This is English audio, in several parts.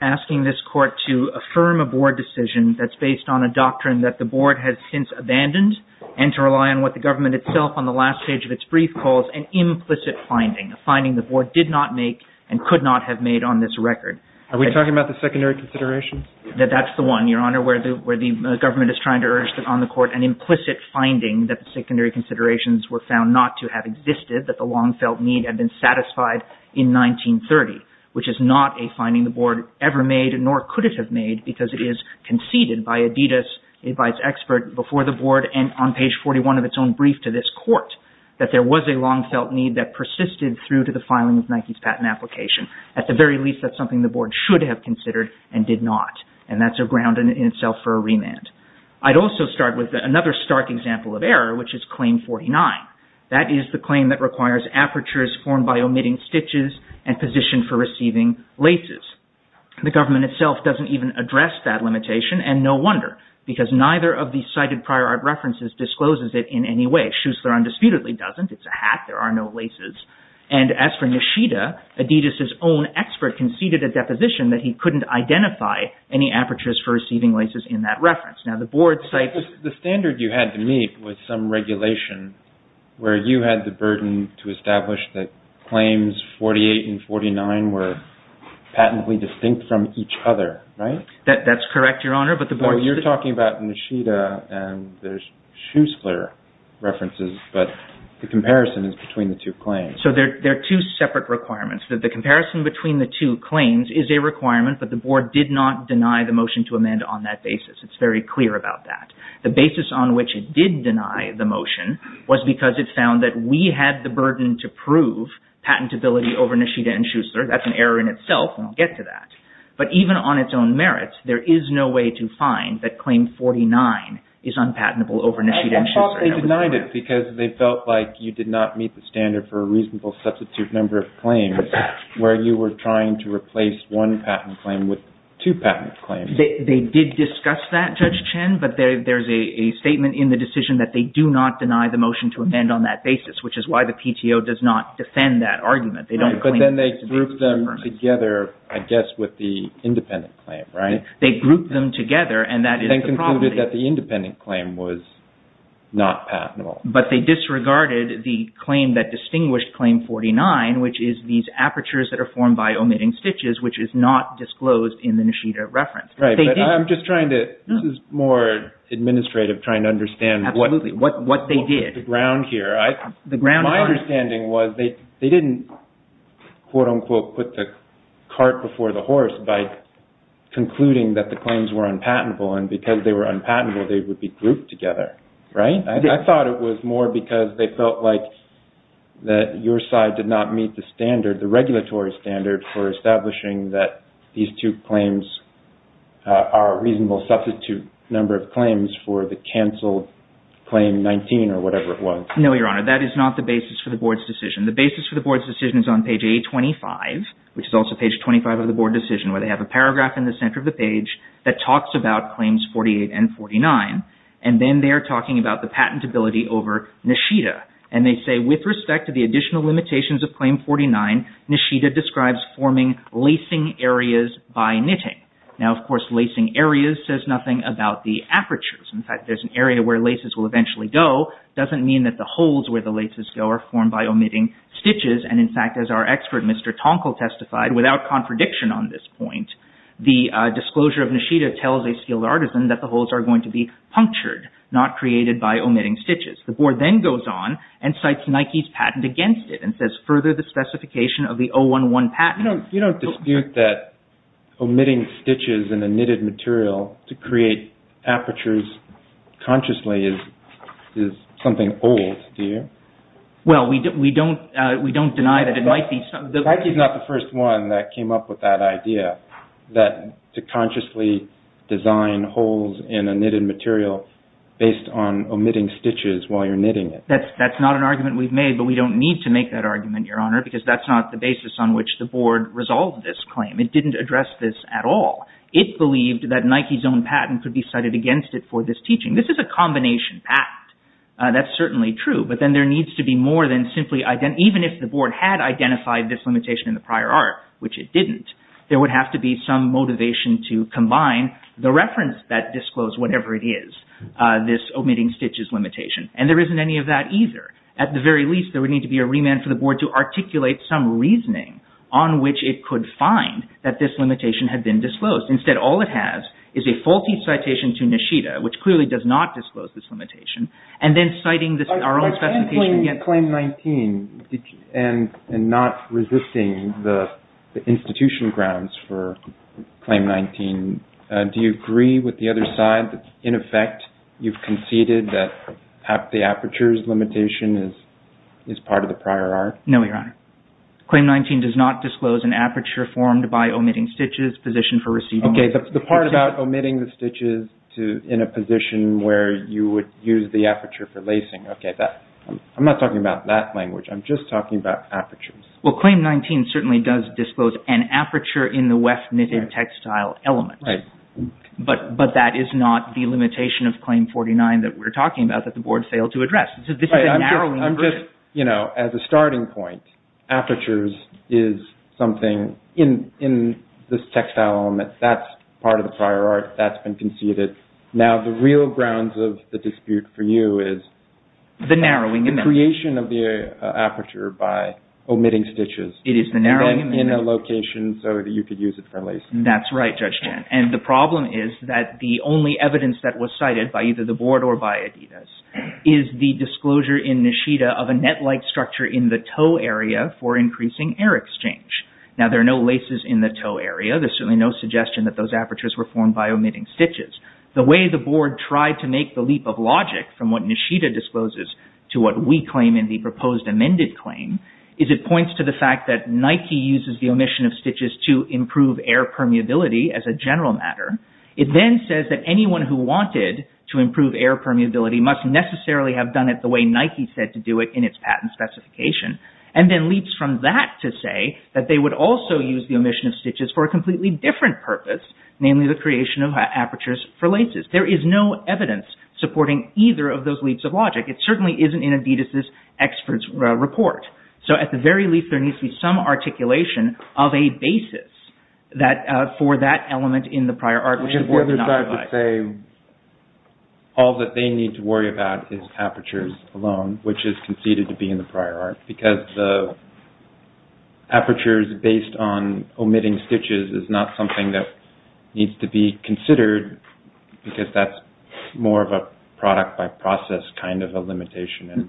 asking this court to affirm a board decision that's based on a doctrine that the board has since abandoned and to rely on what the government itself on the last page of its brief calls an implicit finding, a finding the board did not make and could not have made on this record. Are we talking about the secondary considerations? That's the one, Your Honor, where the government is trying to urge on the court an implicit finding that the secondary considerations were found not to have existed, that the long-felt need had been satisfied in 1930, which is not a finding the board ever made nor could it have made because it is conceded by Adidas, a vice expert, before the board and on page 41 of its own brief to this court that there was a long-felt need that persisted through to the filing of Nike's patent application. At the very least, that's something the board should have considered and did not, and that's a ground in itself for a remand. I'd also start with another stark example of error, which is claim 49. That is the claim that requires apertures formed by omitting stitches and position for receiving laces. The government itself doesn't even address that limitation, and no wonder, because neither of the cited prior art references discloses it in any way. Schuessler undisputedly doesn't. It's a hat. There are no laces. And as for Nishida, Adidas' own expert conceded a deposition that he couldn't identify any apertures for receiving laces in that reference. The standard you had to meet was some regulation where you had the burden to establish that claims 48 and 49 were patently distinct from each other, right? That's correct, Your Honor. You're talking about Nishida, and there's Schuessler references, but the comparison is between the two claims. So there are two separate requirements. The comparison between the two claims is a requirement, but the board did not deny the motion to amend on that basis. It's very clear about that. The basis on which it did deny the motion was because it found that we had the burden to prove patentability over Nishida and Schuessler. That's an error in itself, and we'll get to that. But even on its own merits, there is no way to find that claim 49 is unpatentable over Nishida and Schuessler. And they denied it because they felt like you did not meet the standard for a reasonable substitute number of claims where you were trying to replace one patent claim with two patent claims. They did discuss that, Judge Chen, but there's a statement in the decision that they do not deny the motion to amend on that basis, which is why the PTO does not defend that argument. They don't claim that there's a difference. Right, but then they grouped them together, I guess, with the independent claim, right? They grouped them together, and that is the problem. They concluded that the independent claim was not patentable. But they disregarded the claim that distinguished claim 49, which is these apertures that are Right, but I'm just trying to, this is more administrative, trying to understand what they did. The ground here. My understanding was they didn't, quote unquote, put the cart before the horse by concluding that the claims were unpatentable, and because they were unpatentable, they would be grouped together, right? I thought it was more because they felt like that your side did not meet the standard, for establishing that these two claims are a reasonable substitute number of claims for the canceled claim 19, or whatever it was. No, Your Honor, that is not the basis for the Board's decision. The basis for the Board's decision is on page 825, which is also page 25 of the Board decision, where they have a paragraph in the center of the page that talks about claims 48 and 49, and then they are talking about the patentability over Nishida, and they say, with respect to the additional limitations of claim 49, Nishida describes forming lacing areas by knitting. Now, of course, lacing areas says nothing about the apertures. In fact, there's an area where laces will eventually go, doesn't mean that the holes where the laces go are formed by omitting stitches, and in fact, as our expert, Mr. Tonkel testified, without contradiction on this point, the disclosure of Nishida tells a skilled artisan that the holes are going to be punctured, not created by omitting stitches. The Board then goes on and cites Nike's patent against it, and says, further the specification of the 011 patent. You know, you don't dispute that omitting stitches in a knitted material to create apertures consciously is something old, do you? Well, we don't deny that it might be. Nike is not the first one that came up with that idea, that to consciously design holes in a knitted material based on omitting stitches while you're knitting it. That's not an argument we've made, but we don't need to make that argument, Your Honor, because that's not the basis on which the Board resolved this claim. It didn't address this at all. It believed that Nike's own patent could be cited against it for this teaching. This is a combination patent. That's certainly true, but then there needs to be more than simply, even if the Board had identified this limitation in the prior art, which it didn't, there would have to be some motivation to combine the reference that disclosed whatever it is, this omitting stitches limitation. And there isn't any of that either. At the very least, there would need to be a remand for the Board to articulate some reasoning on which it could find that this limitation had been disclosed. Instead, all it has is a faulty citation to Nishida, which clearly does not disclose this limitation, and then citing our own specification against it. In Claim 19, and not resisting the institution grounds for Claim 19, do you agree with the other side that, in effect, you've conceded that the aperture's limitation is part of the prior art? No, Your Honor. Claim 19 does not disclose an aperture formed by omitting stitches, position for receiving Okay, the part about omitting the stitches in a position where you would use the aperture for lacing. Okay, I'm not talking about that language. I'm just talking about apertures. Well, Claim 19 certainly does disclose an aperture in the WEF-knitted textile element. But that is not the limitation of Claim 49 that we're talking about that the Board failed to address. This is a narrowing version. Right, I'm just, you know, as a starting point, apertures is something in this textile element that's part of the prior art that's been conceded. Now, the real grounds of the dispute for you is the creation of the aperture by omitting stitches in a location so that you could use it for lacing. That's right, Judge Chen. And the problem is that the only evidence that was cited by either the Board or by Adidas is the disclosure in Nishida of a net-like structure in the toe area for increasing air exchange. Now, there are no laces in the toe area. There's certainly no suggestion that those apertures were formed by omitting stitches. The way the Board tried to make the leap of logic from what Nishida discloses to what we claim in the proposed amended claim is it points to the fact that Nike uses the omission of stitches to improve air permeability as a general matter. It then says that anyone who wanted to improve air permeability must necessarily have done it the way Nike said to do it in its patent specification. And then leaps from that to say that they would also use the omission of stitches for a completely different purpose, namely the creation of apertures for laces. There is no evidence supporting either of those leaps of logic. It certainly isn't in Adidas' experts' report. So at the very least, there needs to be some articulation of a basis for that element in the prior art, which the Board did not provide. I guess the other side would say all that they need to worry about is apertures alone, which is conceded to be in the prior art, because the apertures based on omitting stitches is not something that needs to be considered because that's more of a product by process kind of a limitation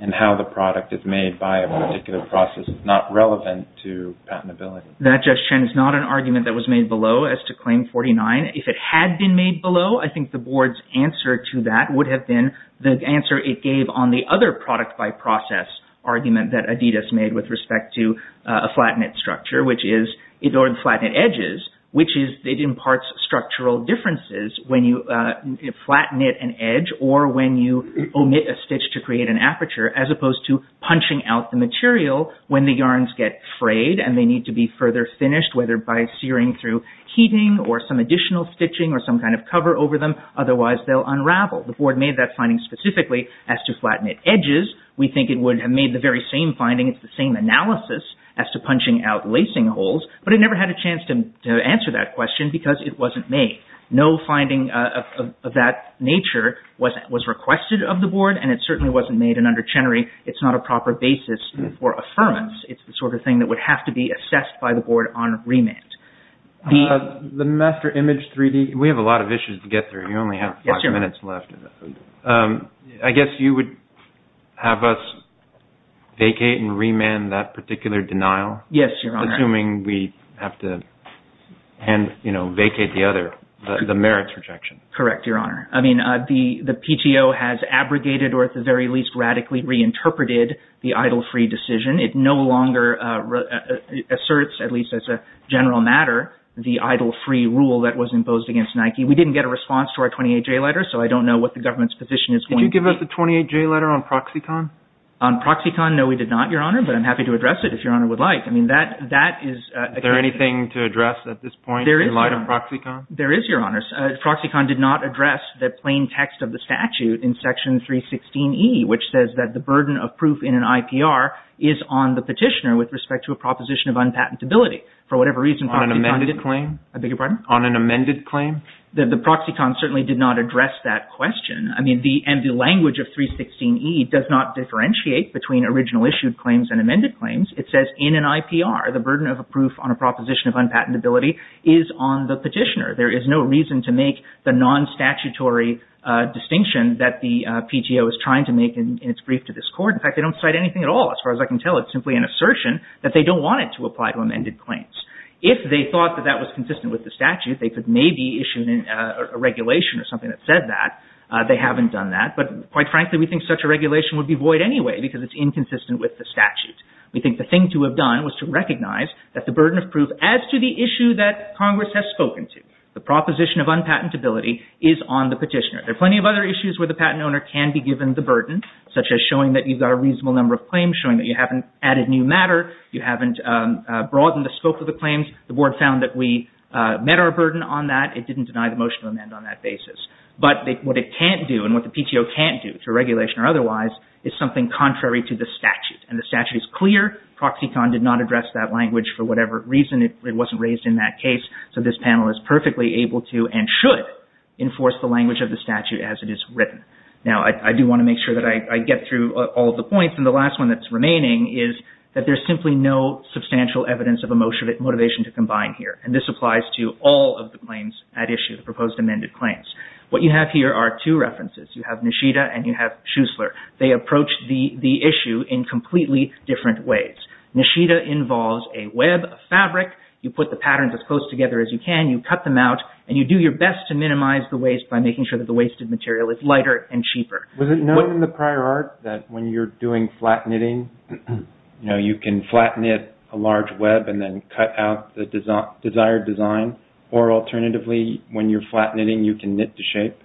and how the product is made by a particular process is not relevant to patentability. That, Jeff Shen, is not an argument that was made below as to Claim 49. If it had been made below, I think the Board's answer to that would have been the answer it gave on the other product by process argument that Adidas made with respect to a flat knit structure or flat knit edges, which imparts structural differences when you flat knit an edge or when you omit a stitch to create an aperture as opposed to punching out the material when the yarns get frayed and they need to be further finished, whether by searing through heating or some additional stitching or some kind of cover over them, otherwise they'll unravel. The Board made that finding specifically as to flat knit edges. We think it would have made the very same finding, it's the same analysis, as to punching out lacing holes, but it never had a chance to answer that question because it wasn't made. No finding of that nature was requested of the Board and it certainly wasn't made and under Chenery, it's not a proper basis for affirmance. It's the sort of thing that would have to be assessed by the Board on remand. The Master Image 3D, we have a lot of issues to get through. You only have five minutes left. I guess you would have us vacate and remand that particular denial? Yes, Your Honor. Assuming we have to vacate the other, the merits rejection. Correct, Your Honor. I mean, the PTO has abrogated or at the very least radically reinterpreted the idle-free decision. It no longer asserts, at least as a general matter, the idle-free rule that was imposed against Nike. We didn't get a response to our 28-J letter, so I don't know what the government's position is going to be. Did you give us a 28-J letter on Proxicon? On Proxicon, no we did not, Your Honor, but I'm happy to address it if Your Honor would like. I mean, that is... Is there anything to address at this point in light of Proxicon? There is, Your Honor. Proxicon did not address the plain text of the statute in Section 316E, which says that the burden of proof in an IPR is on the petitioner with respect to a proposition of unpatentability. For whatever reason... On an amended claim? I beg your pardon? On an amended claim? The Proxicon certainly did not address that question. I mean, and the language of 316E does not differentiate between original issued claims and amended claims. It says, in an IPR, the burden of a proof on a proposition of unpatentability is on the petitioner. There is no reason to make the non-statutory distinction that the PTO is trying to make in its brief to this Court. In fact, they don't cite anything at all as far as I can tell. It's simply an assertion that they don't want it to apply to amended claims. If they thought that that was consistent with the statute, they could maybe issue a regulation or something that said that. They haven't done that, but quite frankly, we think such a regulation would be void anyway because it's inconsistent with the statute. We think the thing to have done was to recognize that the burden of proof, as to the issue that Congress has spoken to, the proposition of unpatentability is on the petitioner. There are plenty of other issues where the patent owner can be given the burden, such as showing that you've got a reasonable number of claims, showing that you haven't added new matter, you haven't broadened the scope of the claims. The Board found that we met our burden on that. It didn't deny the motion to amend on that basis. But what it can't do and what the PTO can't do to regulation or otherwise is something contrary to the statute and the statute is clear, Proxicon did not address that language for whatever reason, it wasn't raised in that case, so this panel is perfectly able to and should enforce the language of the statute as it is written. Now I do want to make sure that I get through all of the points and the last one that's remaining is that there's simply no substantial evidence of a motivation to combine here and this applies to all of the claims at issue, the proposed amended claims. What you have here are two references. You have Nishida and you have Schuessler. They approach the issue in completely different ways. Nishida involves a web of fabric, you put the patterns as close together as you can, you cut them out and you do your best to minimize the waste by making sure that the wasted material is lighter and cheaper. Was it known in the prior art that when you're doing flat knitting, you can flat knit a large web and then cut out the desired design or alternatively when you're flat knitting you can knit to shape?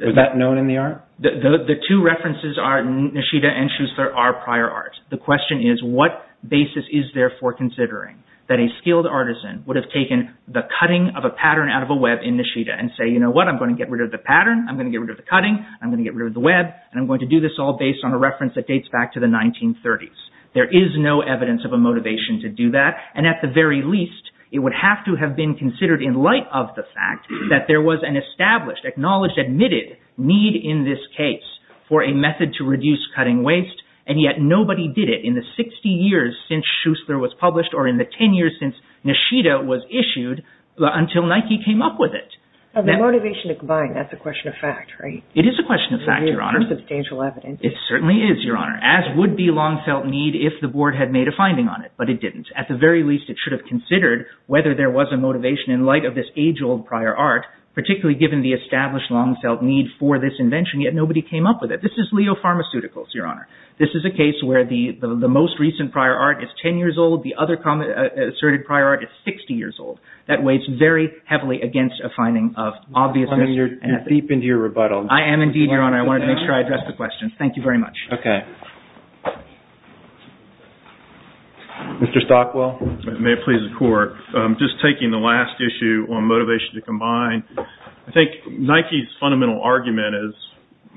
Was that known in the art? The two references are Nishida and Schuessler are prior art. The question is what basis is there for considering that a skilled artisan would have taken the cutting of a pattern out of a web in Nishida and say, you know what, I'm going to get rid of the pattern, I'm going to get rid of the cutting, I'm going to get rid of the web and I'm going to do this all based on a reference that dates back to the 1930s. There is no evidence of a motivation to do that and at the very least it would have to have been considered in light of the fact that there was an established, acknowledged, admitted need in this case for a method to reduce cutting waste and yet nobody did it in the 60 years since Schuessler was published or in the 10 years since Nishida was issued until Nike came up with it. The motivation to combine, that's a question of fact, right? It is a question of fact, Your Honor. There's substantial evidence. It certainly is, Your Honor, as would be long felt need if the board had made a finding on it, but it didn't. At the very least, it should have considered whether there was a established long felt need for this invention yet nobody came up with it. This is Leo Pharmaceuticals, Your Honor. This is a case where the most recent prior art is 10 years old. The other asserted prior art is 60 years old. That weighs very heavily against a finding of obviousness. You're deep into your rebuttal. I am indeed, Your Honor. I wanted to make sure I addressed the question. Okay. Mr. Stockwell. May it please the Court. Just taking the last issue on motivation to combine, I think Nike's fundamental argument is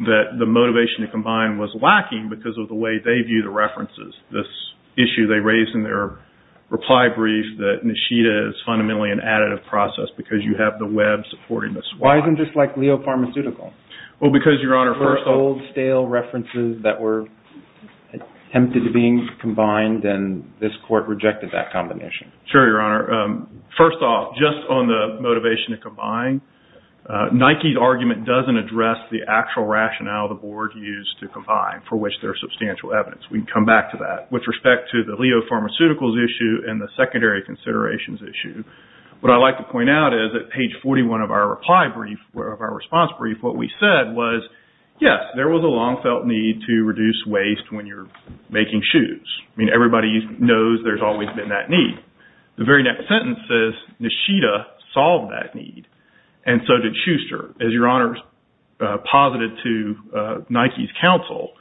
that the motivation to combine was lacking because of the way they view the references. This issue they raised in their reply brief that Nishida is fundamentally an additive process because you have the web supporting this. Why isn't this like Leo Pharmaceuticals? Well, because, Your Honor, first of all... Old, stale references that were attempted to being combined and this court rejected that combination. Sure, Your Honor. First off, just on the motivation to combine, Nike's argument doesn't address the actual rationale the board used to combine for which there's substantial evidence. We can come back to that. With respect to the Leo Pharmaceuticals issue and the secondary considerations issue, what I'd like to point out is that page 41 of our reply brief, of our response brief, what we said was, yes, there was a long felt need to reduce waste when you're making shoes. I mean, everybody knows there's always been that need. The very next sentence says, Nishida solved that need. And so did Schuster. As Your Honor posited to Nike's counsel,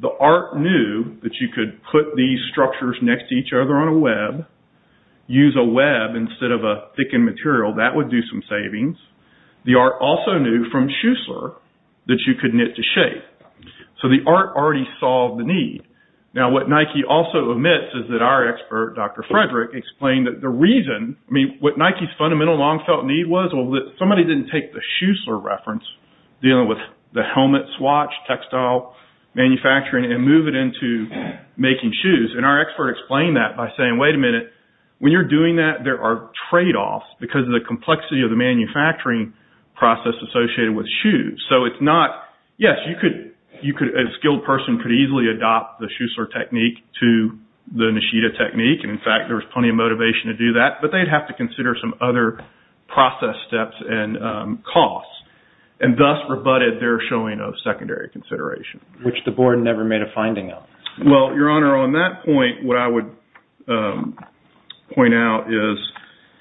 the art knew that you could put these structures next to each other on a web, use a web instead of a thickened material, that would do some savings. The art also knew from Schuster that you could knit to shape. So the art already solved the need. Now, what Nike also admits is that our expert, Dr. Frederick, explained that the reason, I mean, what Nike's fundamental long felt need was, well, that somebody didn't take the Schuster reference, dealing with the helmet swatch, textile manufacturing, and move it into making shoes. And our expert explained that by saying, wait a minute, when you're doing that, there are tradeoffs because of the complexity of the manufacturing process associated with shoes. So it's not, yes, you could, a skilled person could easily adopt the Schuster technique to the Nishida technique. And in fact, there was plenty of motivation to do that. But they'd have to consider some other process steps and costs. And thus rebutted their showing of secondary consideration. Which the board never made a finding of. Well, Your Honor, on that point, what I would point out is.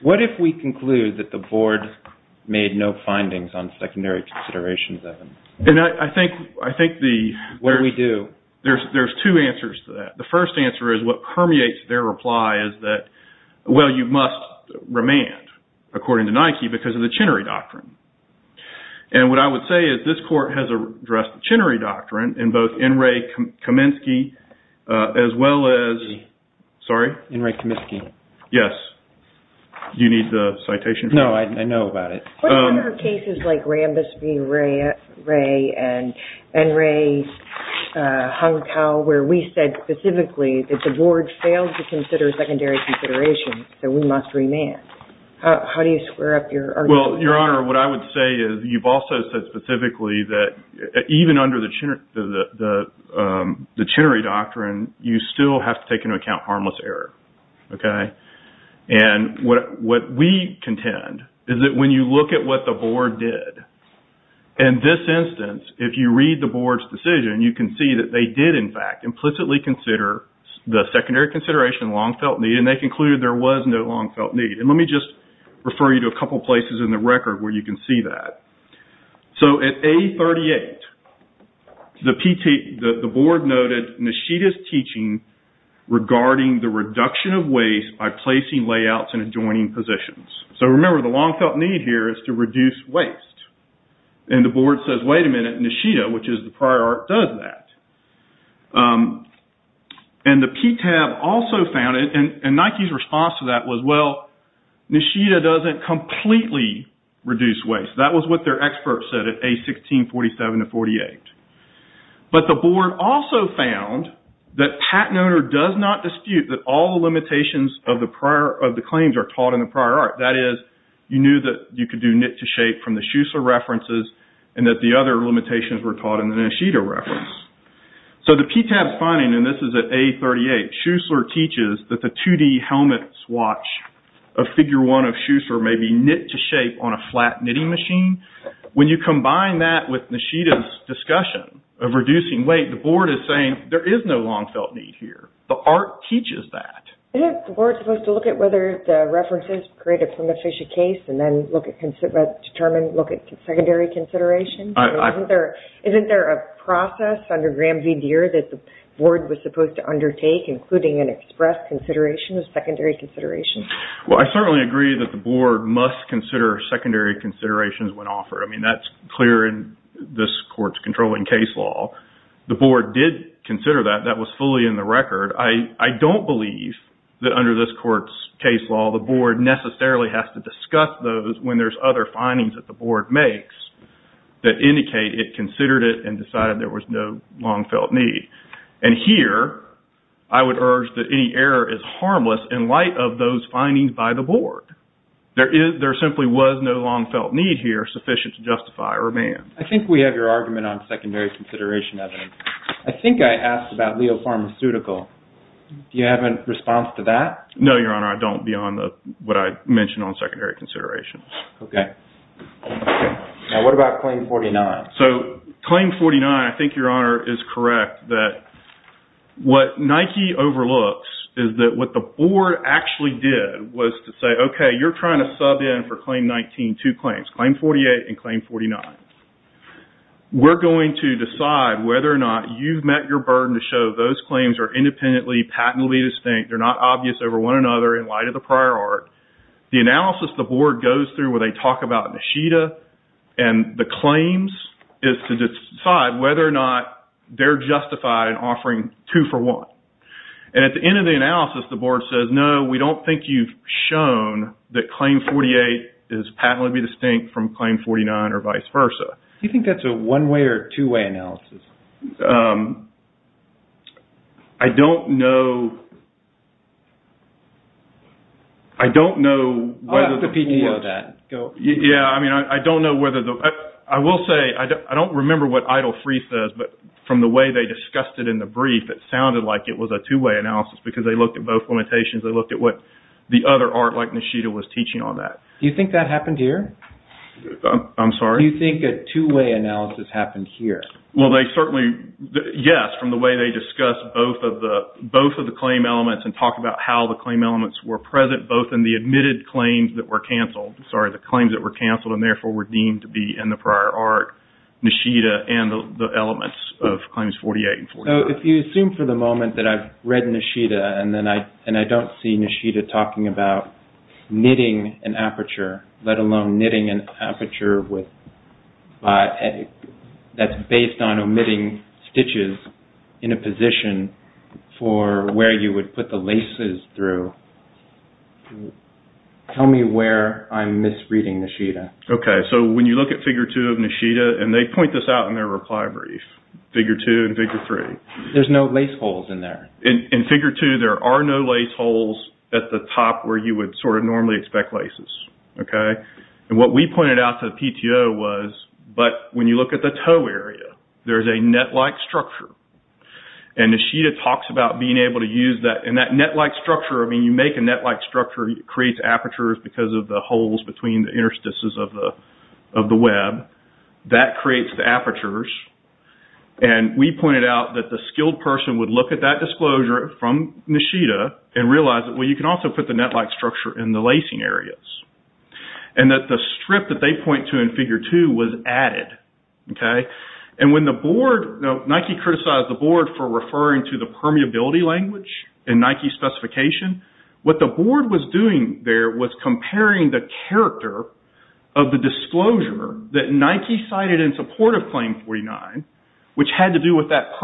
What if we conclude that the board made no findings on secondary considerations, Evan? And I think the. What do we do? There's two answers to that. The first answer is what permeates their reply is that, well, you must remand, according to Nike, because of the Chinnery Doctrine. And what I would say is this court has addressed the Chinnery Doctrine in both N. Ray Kaminsky as well as, sorry? N. Ray Kaminsky. Yes. Do you need the citation? No. I know about it. What about cases like Rambis v. Ray and N. Ray Hung Tao, where we said specifically that the board failed to consider secondary considerations, so we must remand? How do you square up your argument? Well, Your Honor, what I would say is you've also said specifically that even under the Chinnery Doctrine, you still have to take into account harmless error. Okay? And what we contend is that when you look at what the board did, in this instance, if you read the board's decision, you can see that they did, in fact, implicitly consider the secondary consideration a long-felt need, and they concluded there was no long-felt need. And let me just refer you to a couple places in the record where you can see that. So at A38, the board noted Nishida's teaching regarding the reduction of waste by placing layouts in adjoining positions. So remember, the long-felt need here is to reduce waste. And the board says, wait a minute, Nishida, which is the prior art, does that. And the PTAB also found it, and Nike's response to that was, well, Nishida doesn't completely reduce waste. That was what their experts said at A1647-48. But the board also found that patent owner does not dispute that all the limitations of the claims are taught in the prior art. That is, you knew that you could do knit-to-shape from the Schussler references, and that the other limitations were taught in the Nishida reference. So the PTAB's finding, and this is at A38, Schussler teaches that the 2D helmet swatch of Figure 1 of Schussler may be knit-to-shape on a flat knitting machine. When you combine that with Nishida's discussion of reducing weight, the board is saying there is no long-felt need here. The art teaches that. Isn't the board supposed to look at whether the references create a prima facie case and then determine, look at secondary consideration? Isn't there a process under Graham v. Deere that the board was supposed to undertake, including an express consideration of secondary consideration? Well, I certainly agree that the board must consider secondary considerations when offered. I mean, that's clear in this court's controlling case law. The board did consider that. That was fully in the record. I don't believe that under this court's case law, the board necessarily has to discuss those when there's other findings that the board makes that indicate it considered it and decided there was no long-felt need. And here, I would urge that any error is harmless in light of those findings by the board. There simply was no long-felt need here sufficient to justify or ban. I think we have your argument on secondary consideration evidence. I think I asked about Leo Pharmaceutical. Do you have a response to that? No, Your Honor. I don't beyond what I mentioned on secondary consideration. Okay. Now, what about Claim 49? So, Claim 49, I think Your Honor is correct that what Nike overlooks is that what the board actually did was to say, okay, you're trying to sub in for Claim 19 two claims, Claim 48 and Claim 49. We're going to decide whether or not you've met your burden to show those claims are independently, patently distinct. They're not obvious over one another in light of the prior art. The analysis the board goes through where they talk about Nishida and the claims is to decide whether or not they're justified in offering two for one. And at the end of the analysis, the board says, no, we don't think you've shown that Claim 48 is patently distinct from Claim 49 or vice versa. You think that's a one-way or two-way analysis? I don't know. I don't know. I'll ask the PTO that. Go. Yeah. I mean, I don't know whether the – I will say, I don't remember what Idle Free says, but from the way they discussed it in the brief, it sounded like it was a two-way analysis because they looked at both limitations. They looked at what the other art, like Nishida, was teaching on that. Do you think that happened here? They said, no. They said, no. They said, no. They said, no. They said, no. They said, no. They certainly – yes, from the way they discussed both of the claim elements and talked about how the claim elements were present, both in the admitted claims that were canceled – sorry, the claims that were canceled and, therefore, were deemed to be in the prior art, Nishida and the elements of Claims 48 and 49. So, if you assume for the moment that I've read Nishida and I don't see Nishida talking about knitting an aperture, let alone knitting an aperture that's based on omitting stitches in a position for where you would put the laces through, tell me where I'm misreading Nishida. Okay. So, when you look at Figure 2 of Nishida – and they point this out in their reply brief, Figure 2 and Figure 3. There's no lace holes in there. In Figure 2, there are no lace holes at the top where you would sort of normally expect laces. Okay. And what we pointed out to the PTO was, but when you look at the toe area, there's a net-like structure. And Nishida talks about being able to use that. And that net-like structure – I mean, you make a net-like structure, it creates apertures because of the holes between the interstices of the web. That creates the apertures. And we pointed out that the skilled person would look at that disclosure from Nishida and realize that, well, you can also put the net-like structure in the lacing areas. And that the strip that they point to in Figure 2 was added. Okay. And when the board – Nike criticized the board for referring to the permeability language in Nike specification. What the board was doing there was comparing the character of the disclosure that Nike cited in support of Claim 49, which had to do with that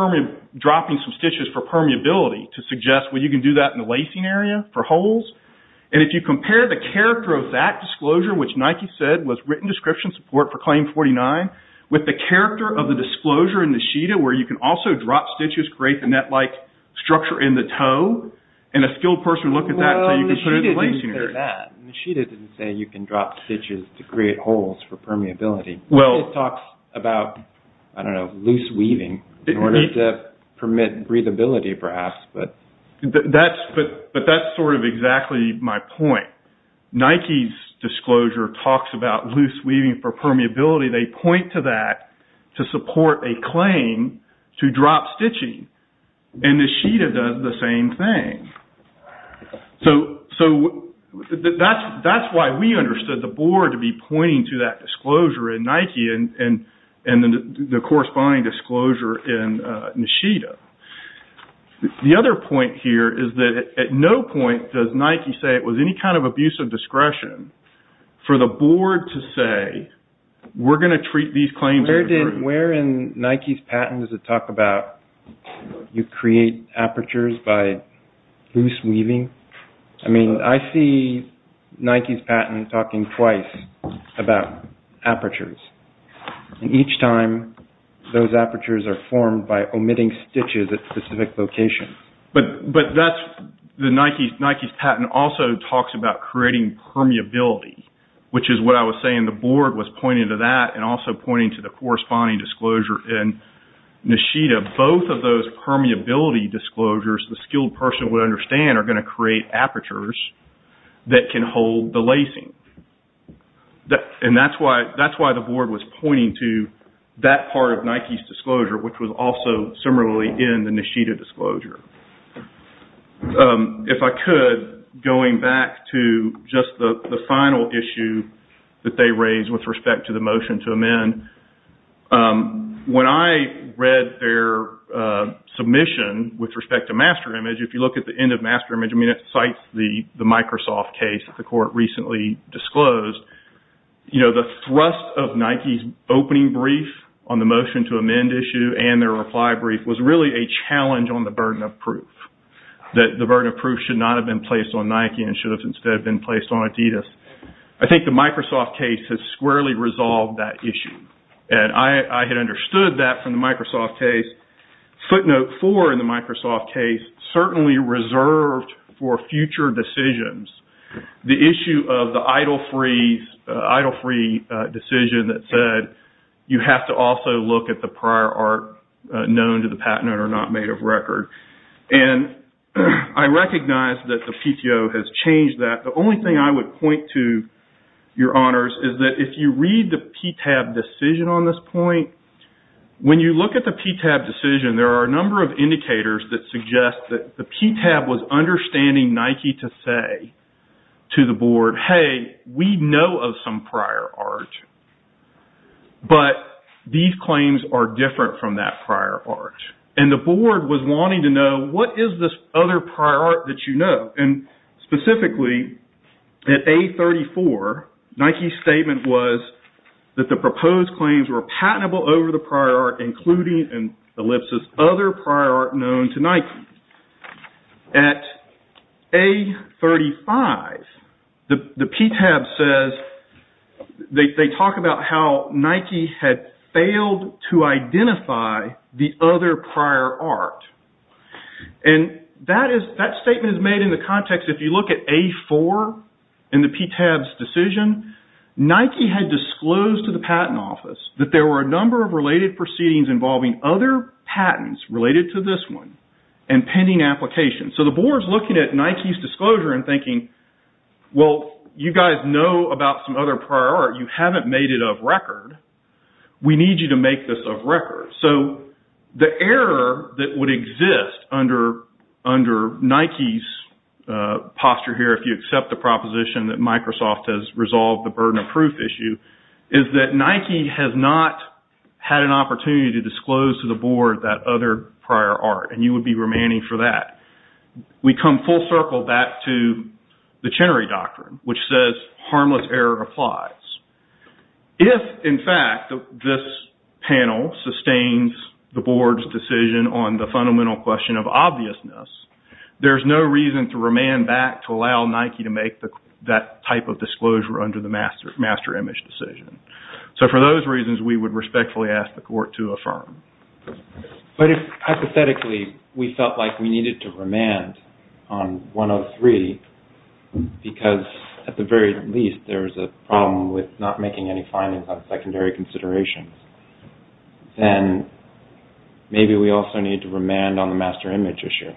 dropping some stitches for permeability, to suggest, well, you can do that in the lacing area for holes. And if you compare the character of that disclosure, which Nike said was written description support for Claim 49, with the character of the disclosure in Nishida, where you can also drop stitches, create the net-like structure in the toe, and a skilled person would look at that and say, you can put it in the lacing area. Well, Nishida didn't say that. Nishida didn't say you can drop stitches to create holes for permeability. Well – It talks about, I don't know, loose weaving in order to permit breathability, perhaps, but – That's – but that's sort of exactly my point. Nike's disclosure talks about loose weaving for permeability. They point to that to support a claim to drop stitching. And Nishida does the same thing. So, that's why we understood the board to be pointing to that disclosure in Nike, and the corresponding disclosure in Nishida. The other point here is that at no point does Nike say it was any kind of abuse of discretion for the board to say, we're going to treat these claims – Where in Nike's patent does it talk about you create apertures by loose weaving? I mean, I see Nike's patent talking twice about apertures. And each time, those apertures are formed by omitting stitches at specific locations. But that's – Nike's patent also talks about creating permeability, which is what I was saying. The board was pointing to that, and also pointing to the corresponding disclosure in Nishida. Both of those permeability disclosures, the skilled person would understand, are going to create apertures that can hold the lacing. And that's why the board was pointing to that part of Nike's disclosure, which was also similarly in the Nishida disclosure. If I could, going back to just the final issue that they raised with respect to the motion to amend, when I read their submission with respect to master image, if you look at the end of master image, I mean, it cites the Microsoft case that the court recently disclosed. You know, the thrust of Nike's opening brief on the motion to amend issue and their reply brief was really a challenge on the burden of proof, that the burden of proof should not have been placed on Nike and should have instead been placed on Adidas. I think the Microsoft case has squarely resolved that issue. And I had understood that from the Microsoft case. Footnote four in the Microsoft case, certainly reserved for future decisions, the issue of the idle-free decision that said, you have to also look at the prior art known to the patent owner not made of record. And I recognize that the PTO has changed that. The only thing I would point to, your honors, is that if you read the PTAB decision on this point, when you look at the PTAB decision, there are a number of indicators that suggest that the PTAB was understanding Nike to say to the board, hey, we know of some prior art, but these claims are different from that prior art. And the board was wanting to know, what is this other prior art that you know? And specifically, at A34, Nike's statement was that the proposed claims were patentable over the prior art, including, in ellipsis, other prior art known to Nike. At A35, the PTAB says, they talk about how Nike had failed to identify the other prior art. And that statement is made in the context, if you look at A4 in the PTAB's decision, Nike had disclosed to the patent office that there were a number of related proceedings involving other patents related to this one and pending applications. So the board is looking at Nike's disclosure and thinking, well, you guys know about some other prior art. You haven't made it of record. We need you to make this of record. So the error that would exist under Nike's posture here, if you accept the proposition that Microsoft has resolved the burden of proof issue, is that Nike has not had an opportunity to disclose to the board that other prior art. And you would be remanding for that. We come full circle back to the Chenery Doctrine, which says, harmless error applies. If, in fact, this panel sustains the board's decision on the fundamental question of obviousness, there's no reason to remand back to allow Nike to make that type of disclosure under the master image decision. So for those reasons, we would respectfully ask the court to affirm. But if, hypothetically, we felt like we needed to remand on 103, because at the very least there was a problem with not making any findings on secondary considerations, then maybe we also need to remand on the master image issue.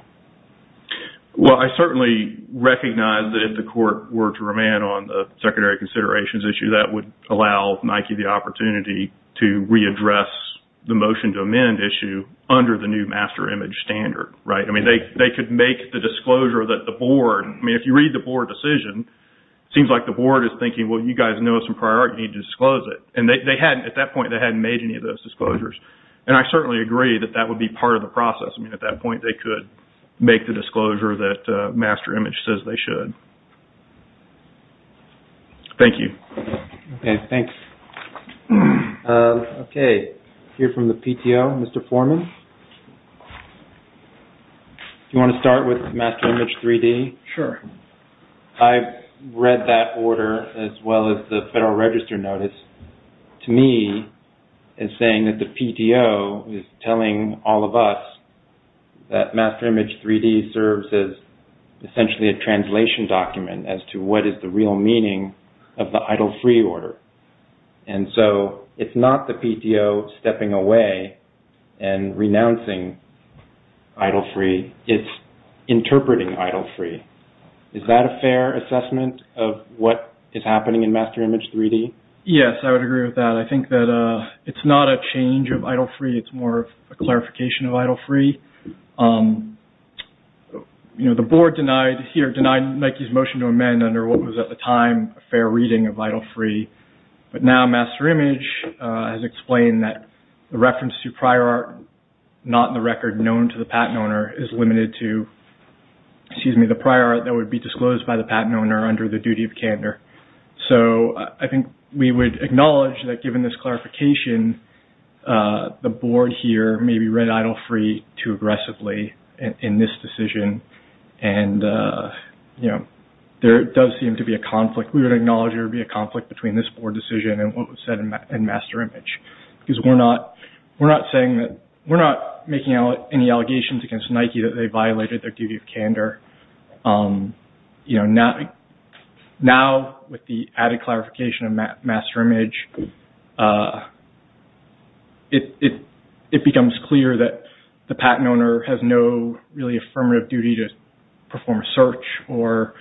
Well, I certainly recognize that if the court were to remand on the secondary considerations issue, that would allow Nike the opportunity to readdress the motion to amend issue under the new master image standard, right? I mean, they could make the disclosure that the board, I mean, if you read the board decision, it seems like the board is thinking, well, you guys know some prior art. You need to disclose it. And they hadn't, at that point, they hadn't made any of those disclosures. And I certainly agree that that would be part of the process. I mean, at that point, they could make the disclosure that master image says they should. Thank you. Okay, thanks. Okay, here from the PTO, Mr. Foreman. Do you want to start with master image 3D? Sure. I've read that order as well as the Federal Register notice. To me, it's saying that the PTO is telling all of us that master image 3D serves as essentially a translation document as to what is the real meaning of the idle free order. And so, it's not the PTO stepping away and renouncing idle free. It's interpreting idle free. Is that a fair assessment of what is happening in master image 3D? Yes, I would agree with that. I think that it's not a change of idle free. It's more of a clarification of idle free. You know, the board denied, here, denied Nike's motion to amend under what was at the time a fair reading of idle free. But now, master image has explained that the reference to prior art not in the record known to the patent owner is limited to, excuse me, the prior art that would be disclosed by the patent owner under the duty of candor. So, I think we would acknowledge that given this clarification, the board here maybe read idle free too aggressively in this decision. And, you know, there does seem to be a conflict. We would acknowledge there would be a conflict between this board decision and what was said in master image. Because we're not making any allegations against Nike that they violated their duty of candor. Now, with the added clarification of master image, it becomes clear that the patent owner has no really affirmative duty to perform a search or,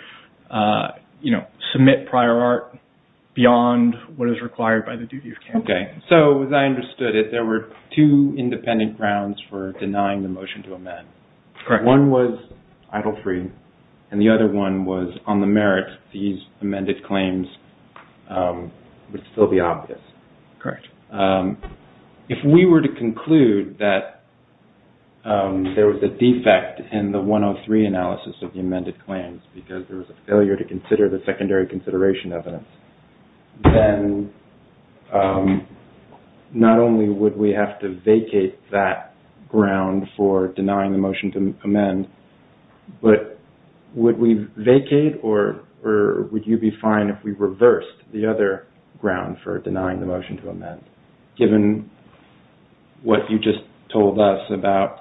you know, submit prior art beyond what is required by the duty of candor. Okay. So, as I understood it, there were two independent grounds for denying the motion to amend. Correct. One was idle free, and the other one was on the merit these amended claims would still be optional. Correct. If we were to conclude that there was a defect in the 103 analysis of the amended claims, because there was a failure to consider the secondary consideration evidence, then not only would we have to vacate that ground for denying the motion to amend, but would we vacate or would you be fine if we reversed the other ground for denying the motion to amend, given what you just told us about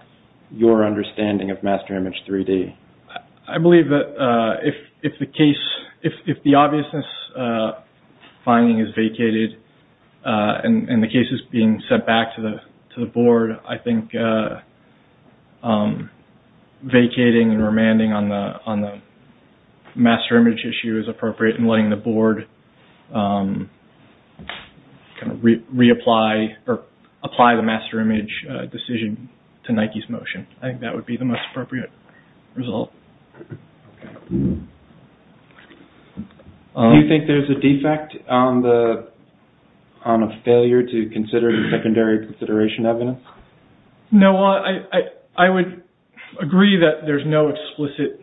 your understanding of master image 3D? I believe that if the case, if the obviousness finding is vacated and the case is being sent back to the board, I think vacating and remanding on the master image issue is appropriate and letting the board reapply or apply the master image decision to Nike's motion. I think that would be the most appropriate result. Do you think there's a defect on a failure to consider the secondary consideration evidence? No, I would agree that there's no explicit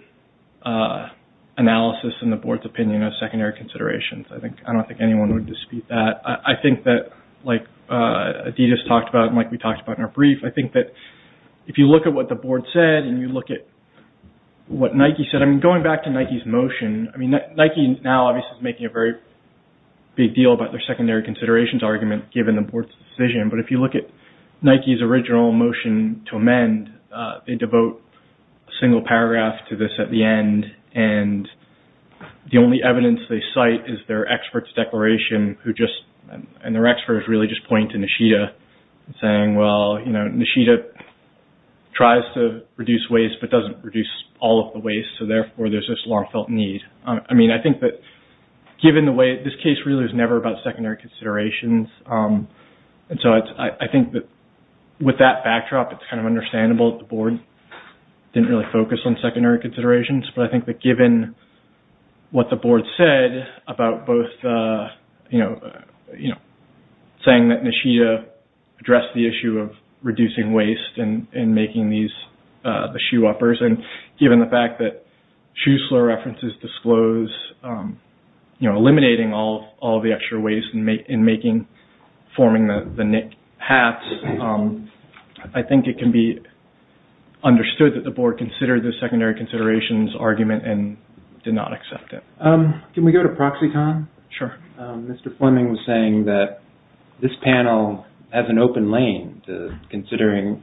analysis in the board's opinion of secondary considerations. I don't think anyone would dispute that. I think that like Adidas talked about and like we talked about in our brief, I think that if you look at what the board said and you look at what Nike said, going back to Nike's motion, Nike now obviously is making a very big deal about their secondary considerations argument given the board's decision, but if you look at Nike's original motion to amend, they devote a single paragraph to this at the end and the only evidence they cite is their expert's declaration and their experts really just point to Nishida saying, well Nishida tries to reduce waste but doesn't reduce all of the waste, so therefore there's this long felt need. I mean I think that given the way, this case really was never about secondary considerations, and so I think that with that backdrop it's kind of understandable that the board didn't really focus on secondary considerations, but I think that given what the board said about both saying that Nishida addressed the issue of reducing waste and making these the shoe uppers, and given the fact that Schuessler references disclose eliminating all the extra waste and forming the Nick hats, I think it can be understood that the board considered the secondary considerations argument and did not accept it. Can we go to Proxicon? Sure. Mr. Fleming was saying that this panel has an open lane considering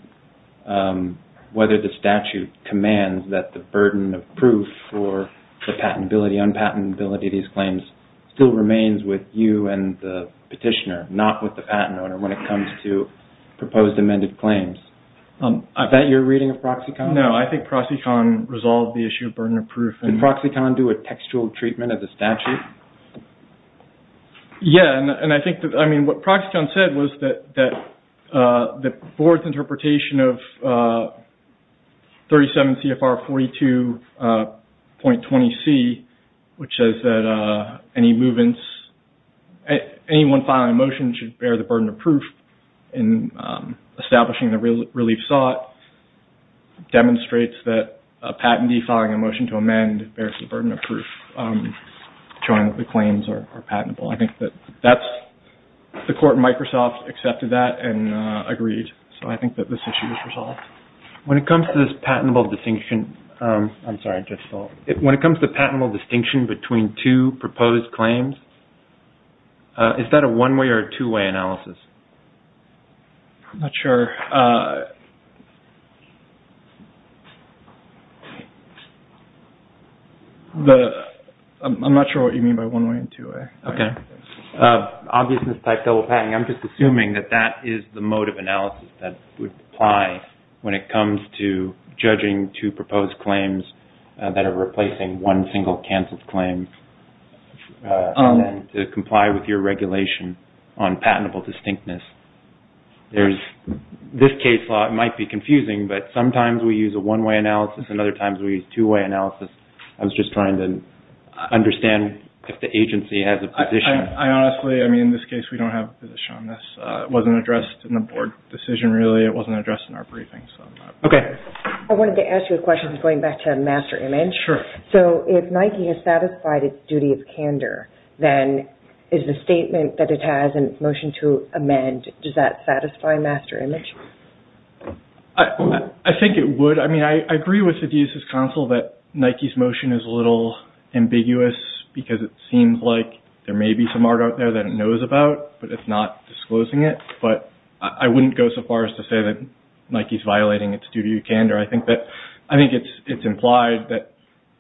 whether the statute commands that the burden of proof for the patentability, unpatentability of these claims still remains with you and the petitioner, but not with the patent owner when it comes to proposed amended claims. Is that your reading of Proxicon? No, I think Proxicon resolved the issue of burden of proof. Did Proxicon do a textual treatment of the statute? Yeah, and I think what Proxicon said was that the board's interpretation of 37 CFR 42.20C, which says that anyone filing a motion should bear the burden of proof in establishing the relief sought, demonstrates that a patentee filing a motion to amend bears the burden of proof showing that the claims are patentable. I think that the court in Microsoft accepted that and agreed, so I think that this issue was resolved. When it comes to this patentable distinction between two proposed claims, is that a one-way or a two-way analysis? I'm not sure. I'm not sure what you mean by one-way and two-way. Okay. Obviousness type double patenting, I'm just assuming that that is the mode of analysis that would apply when it comes to judging two proposed claims that are replacing one single canceled claim and then to comply with your regulation on patentable distinctness. There's this case law. It might be confusing, but sometimes we use a one-way analysis and other times we use two-way analysis. I was just trying to understand if the agency has a position. Honestly, in this case, we don't have a position on this. It wasn't addressed in the board decision, really. It wasn't addressed in our briefing. Okay. I wanted to ask you a question going back to Master Image. If Nike has satisfied its duty of candor, then is the statement that it has in its motion to amend, does that satisfy Master Image? I think it would. I agree with the DSS console that Nike's motion is a little ambiguous because it seems like there may be some art out there that it knows about, but it's not disclosing it. I wouldn't go so far as to say that Nike is violating its duty of candor. I think it's implied that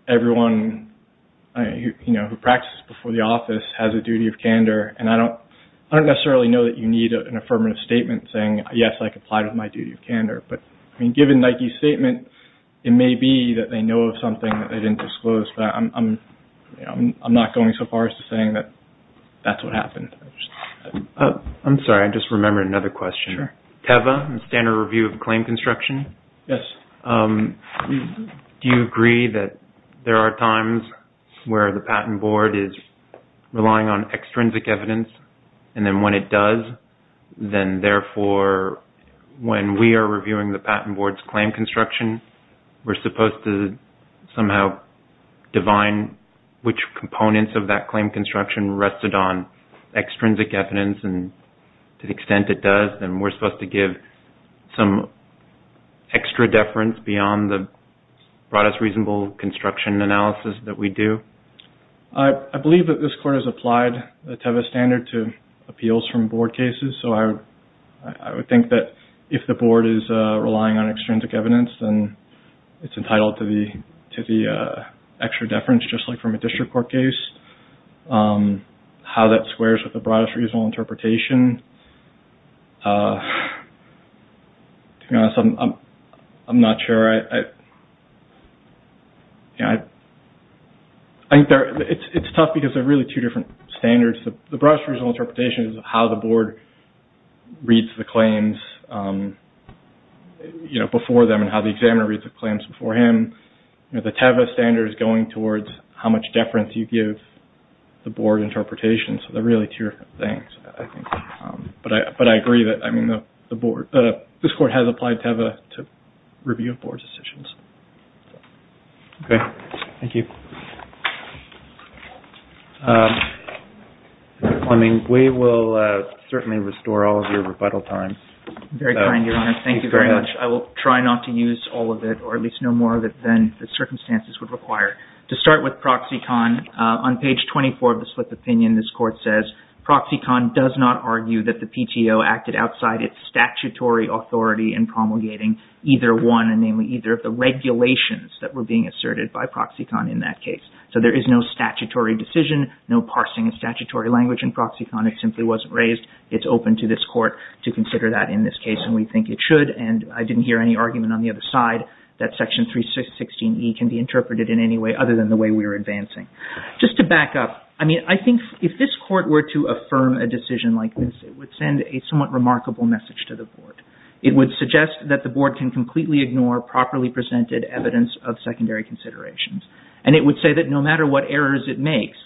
everyone who practices before the office has a duty of candor. I don't necessarily know that you need an affirmative statement saying, yes, I comply with my duty of candor. But given Nike's statement, it may be that they know of something that they didn't disclose, but I'm not going so far as to saying that that's what happened. I'm sorry. I just remembered another question. Sure. TEVA, Standard Review of Claim Construction? Yes. Do you agree that there are times where the patent board is relying on extrinsic evidence, and then when it does, then therefore when we are reviewing the patent board's claim construction, we're supposed to somehow divine which components of that claim construction rested on extrinsic evidence, and to the extent it does, then we're supposed to give some extra deference beyond the broadest reasonable construction analysis that we do? I believe that this court has applied the TEVA standard to appeals from board cases, so I would think that if the board is relying on extrinsic evidence, then it's entitled to the extra deference just like from a district court case. How that squares with the broadest reasonable interpretation, to be honest, I'm not sure. I think it's tough because they're really two different standards. The broadest reasonable interpretation is how the board reads the claims before them, and how the examiner reads the claims before him. The TEVA standard is going towards how much deference you give the board interpretation, so they're really two different things, I think. But I agree that this court has applied TEVA to review of board decisions. Mr. Fleming, we will certainly restore all of your rebuttal time. Very kind, Your Honor. Thank you very much. I will try not to use all of it, or at least no more of it than the circumstances would require. To start with ProxyCon, on page 24 of the split opinion, this court says, ProxyCon does not argue that the PTO acted outside its statutory authority in promulgating either one, namely either of the regulations that were being asserted by ProxyCon in that case. So there is no statutory decision, no parsing of statutory language in ProxyCon. It simply wasn't raised. It's open to this court to consider that in this case, and we think it should, and I didn't hear any argument on the other side that Section 316E can be interpreted in any way other than the way we're advancing. Just to back up, I think if this court were to affirm a decision like this, it would send a somewhat remarkable message to the board. It would suggest that the board can completely ignore properly presented evidence of secondary considerations. And it would say that no matter what errors it makes,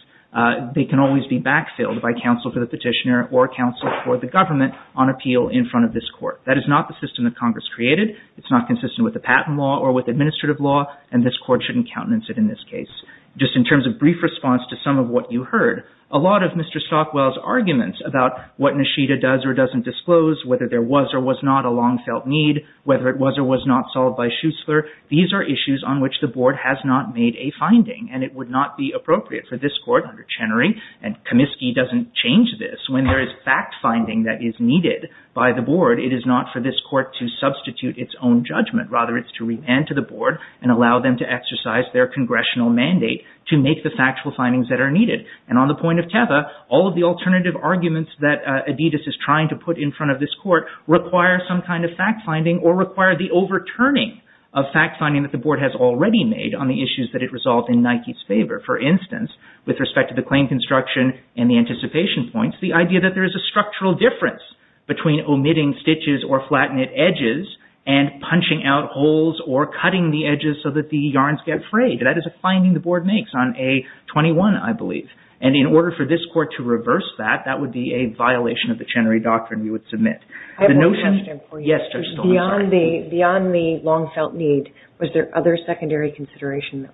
they can always be backfilled by counsel for the petitioner or counsel for the government on appeal in front of this court. That is not the system that Congress created. It's not consistent with the patent law or with administrative law, and this court shouldn't countenance it in this case. Just in terms of brief response to some of what you heard, a lot of Mr. Stockwell's arguments about what Nishida does or doesn't disclose, whether there was or was not a long-felt need, whether it was or was not solved by Schuessler, these are issues on which the board has not made a finding, and it would not be appropriate for this court under Chenery, and Comiskey doesn't change this. When there is fact-finding that is needed by the board, it is not for this court to substitute its own judgment. Rather, it's to remand to the board and allow them to exercise their congressional mandate to make the factual findings that are needed. And on the point of Teva, all of the alternative arguments that Adidas is trying to put in front of this court require some kind of fact-finding or require the overturning of fact-finding that the board has already made on the issues that it resolved in Nike's favor. For instance, with respect to the claim construction and the anticipation points, the idea that there is a structural difference between omitting stitches or flat-knit edges and punching out holes or cutting the edges so that the yarns get frayed. That is a finding the board makes on A21, I believe. And in order for this court to reverse that, that would be a violation of the Chenery Doctrine we would submit. I have one question for you. Yes, Judge Stoltenberg. Beyond the long-felt need, was there other secondary consideration,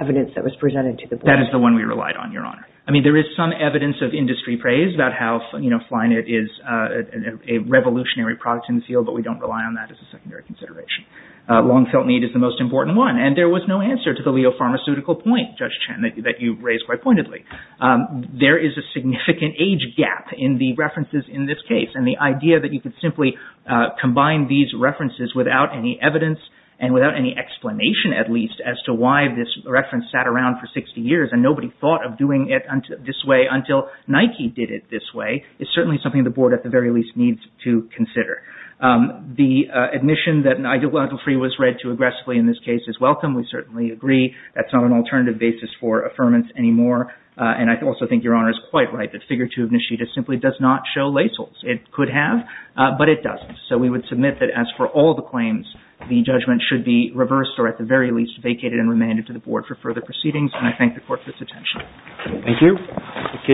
evidence that was presented to the board? That is the one we relied on, Your Honor. I mean, there is some evidence of industry praise about how flat-knit is a revolutionary product in the field, but we don't rely on that as a secondary consideration. Long-felt need is the most important one, and there was no answer to the Leo Pharmaceutical point, Judge Chen, that you raised quite pointedly. There is a significant age gap in the references in this case, and the idea that you could simply combine these references without any evidence and without any explanation, at least, as to why this reference sat around for 60 years and nobody thought of doing it this way until Nike did it this way is certainly something the board, at the very least, needs to consider. The admission that an ideological free was read too aggressively in this case is welcome, we certainly agree. That's not an alternative basis for affirmance anymore, and I also think Your Honor is quite right that Figure 2 of Nishida simply does not show lacels. It could have, but it doesn't. So we would submit that, as for all the claims, the judgment should be reversed or, at the very least, vacated and remanded to the board for further proceedings, and I thank the Court for its attention. Thank you.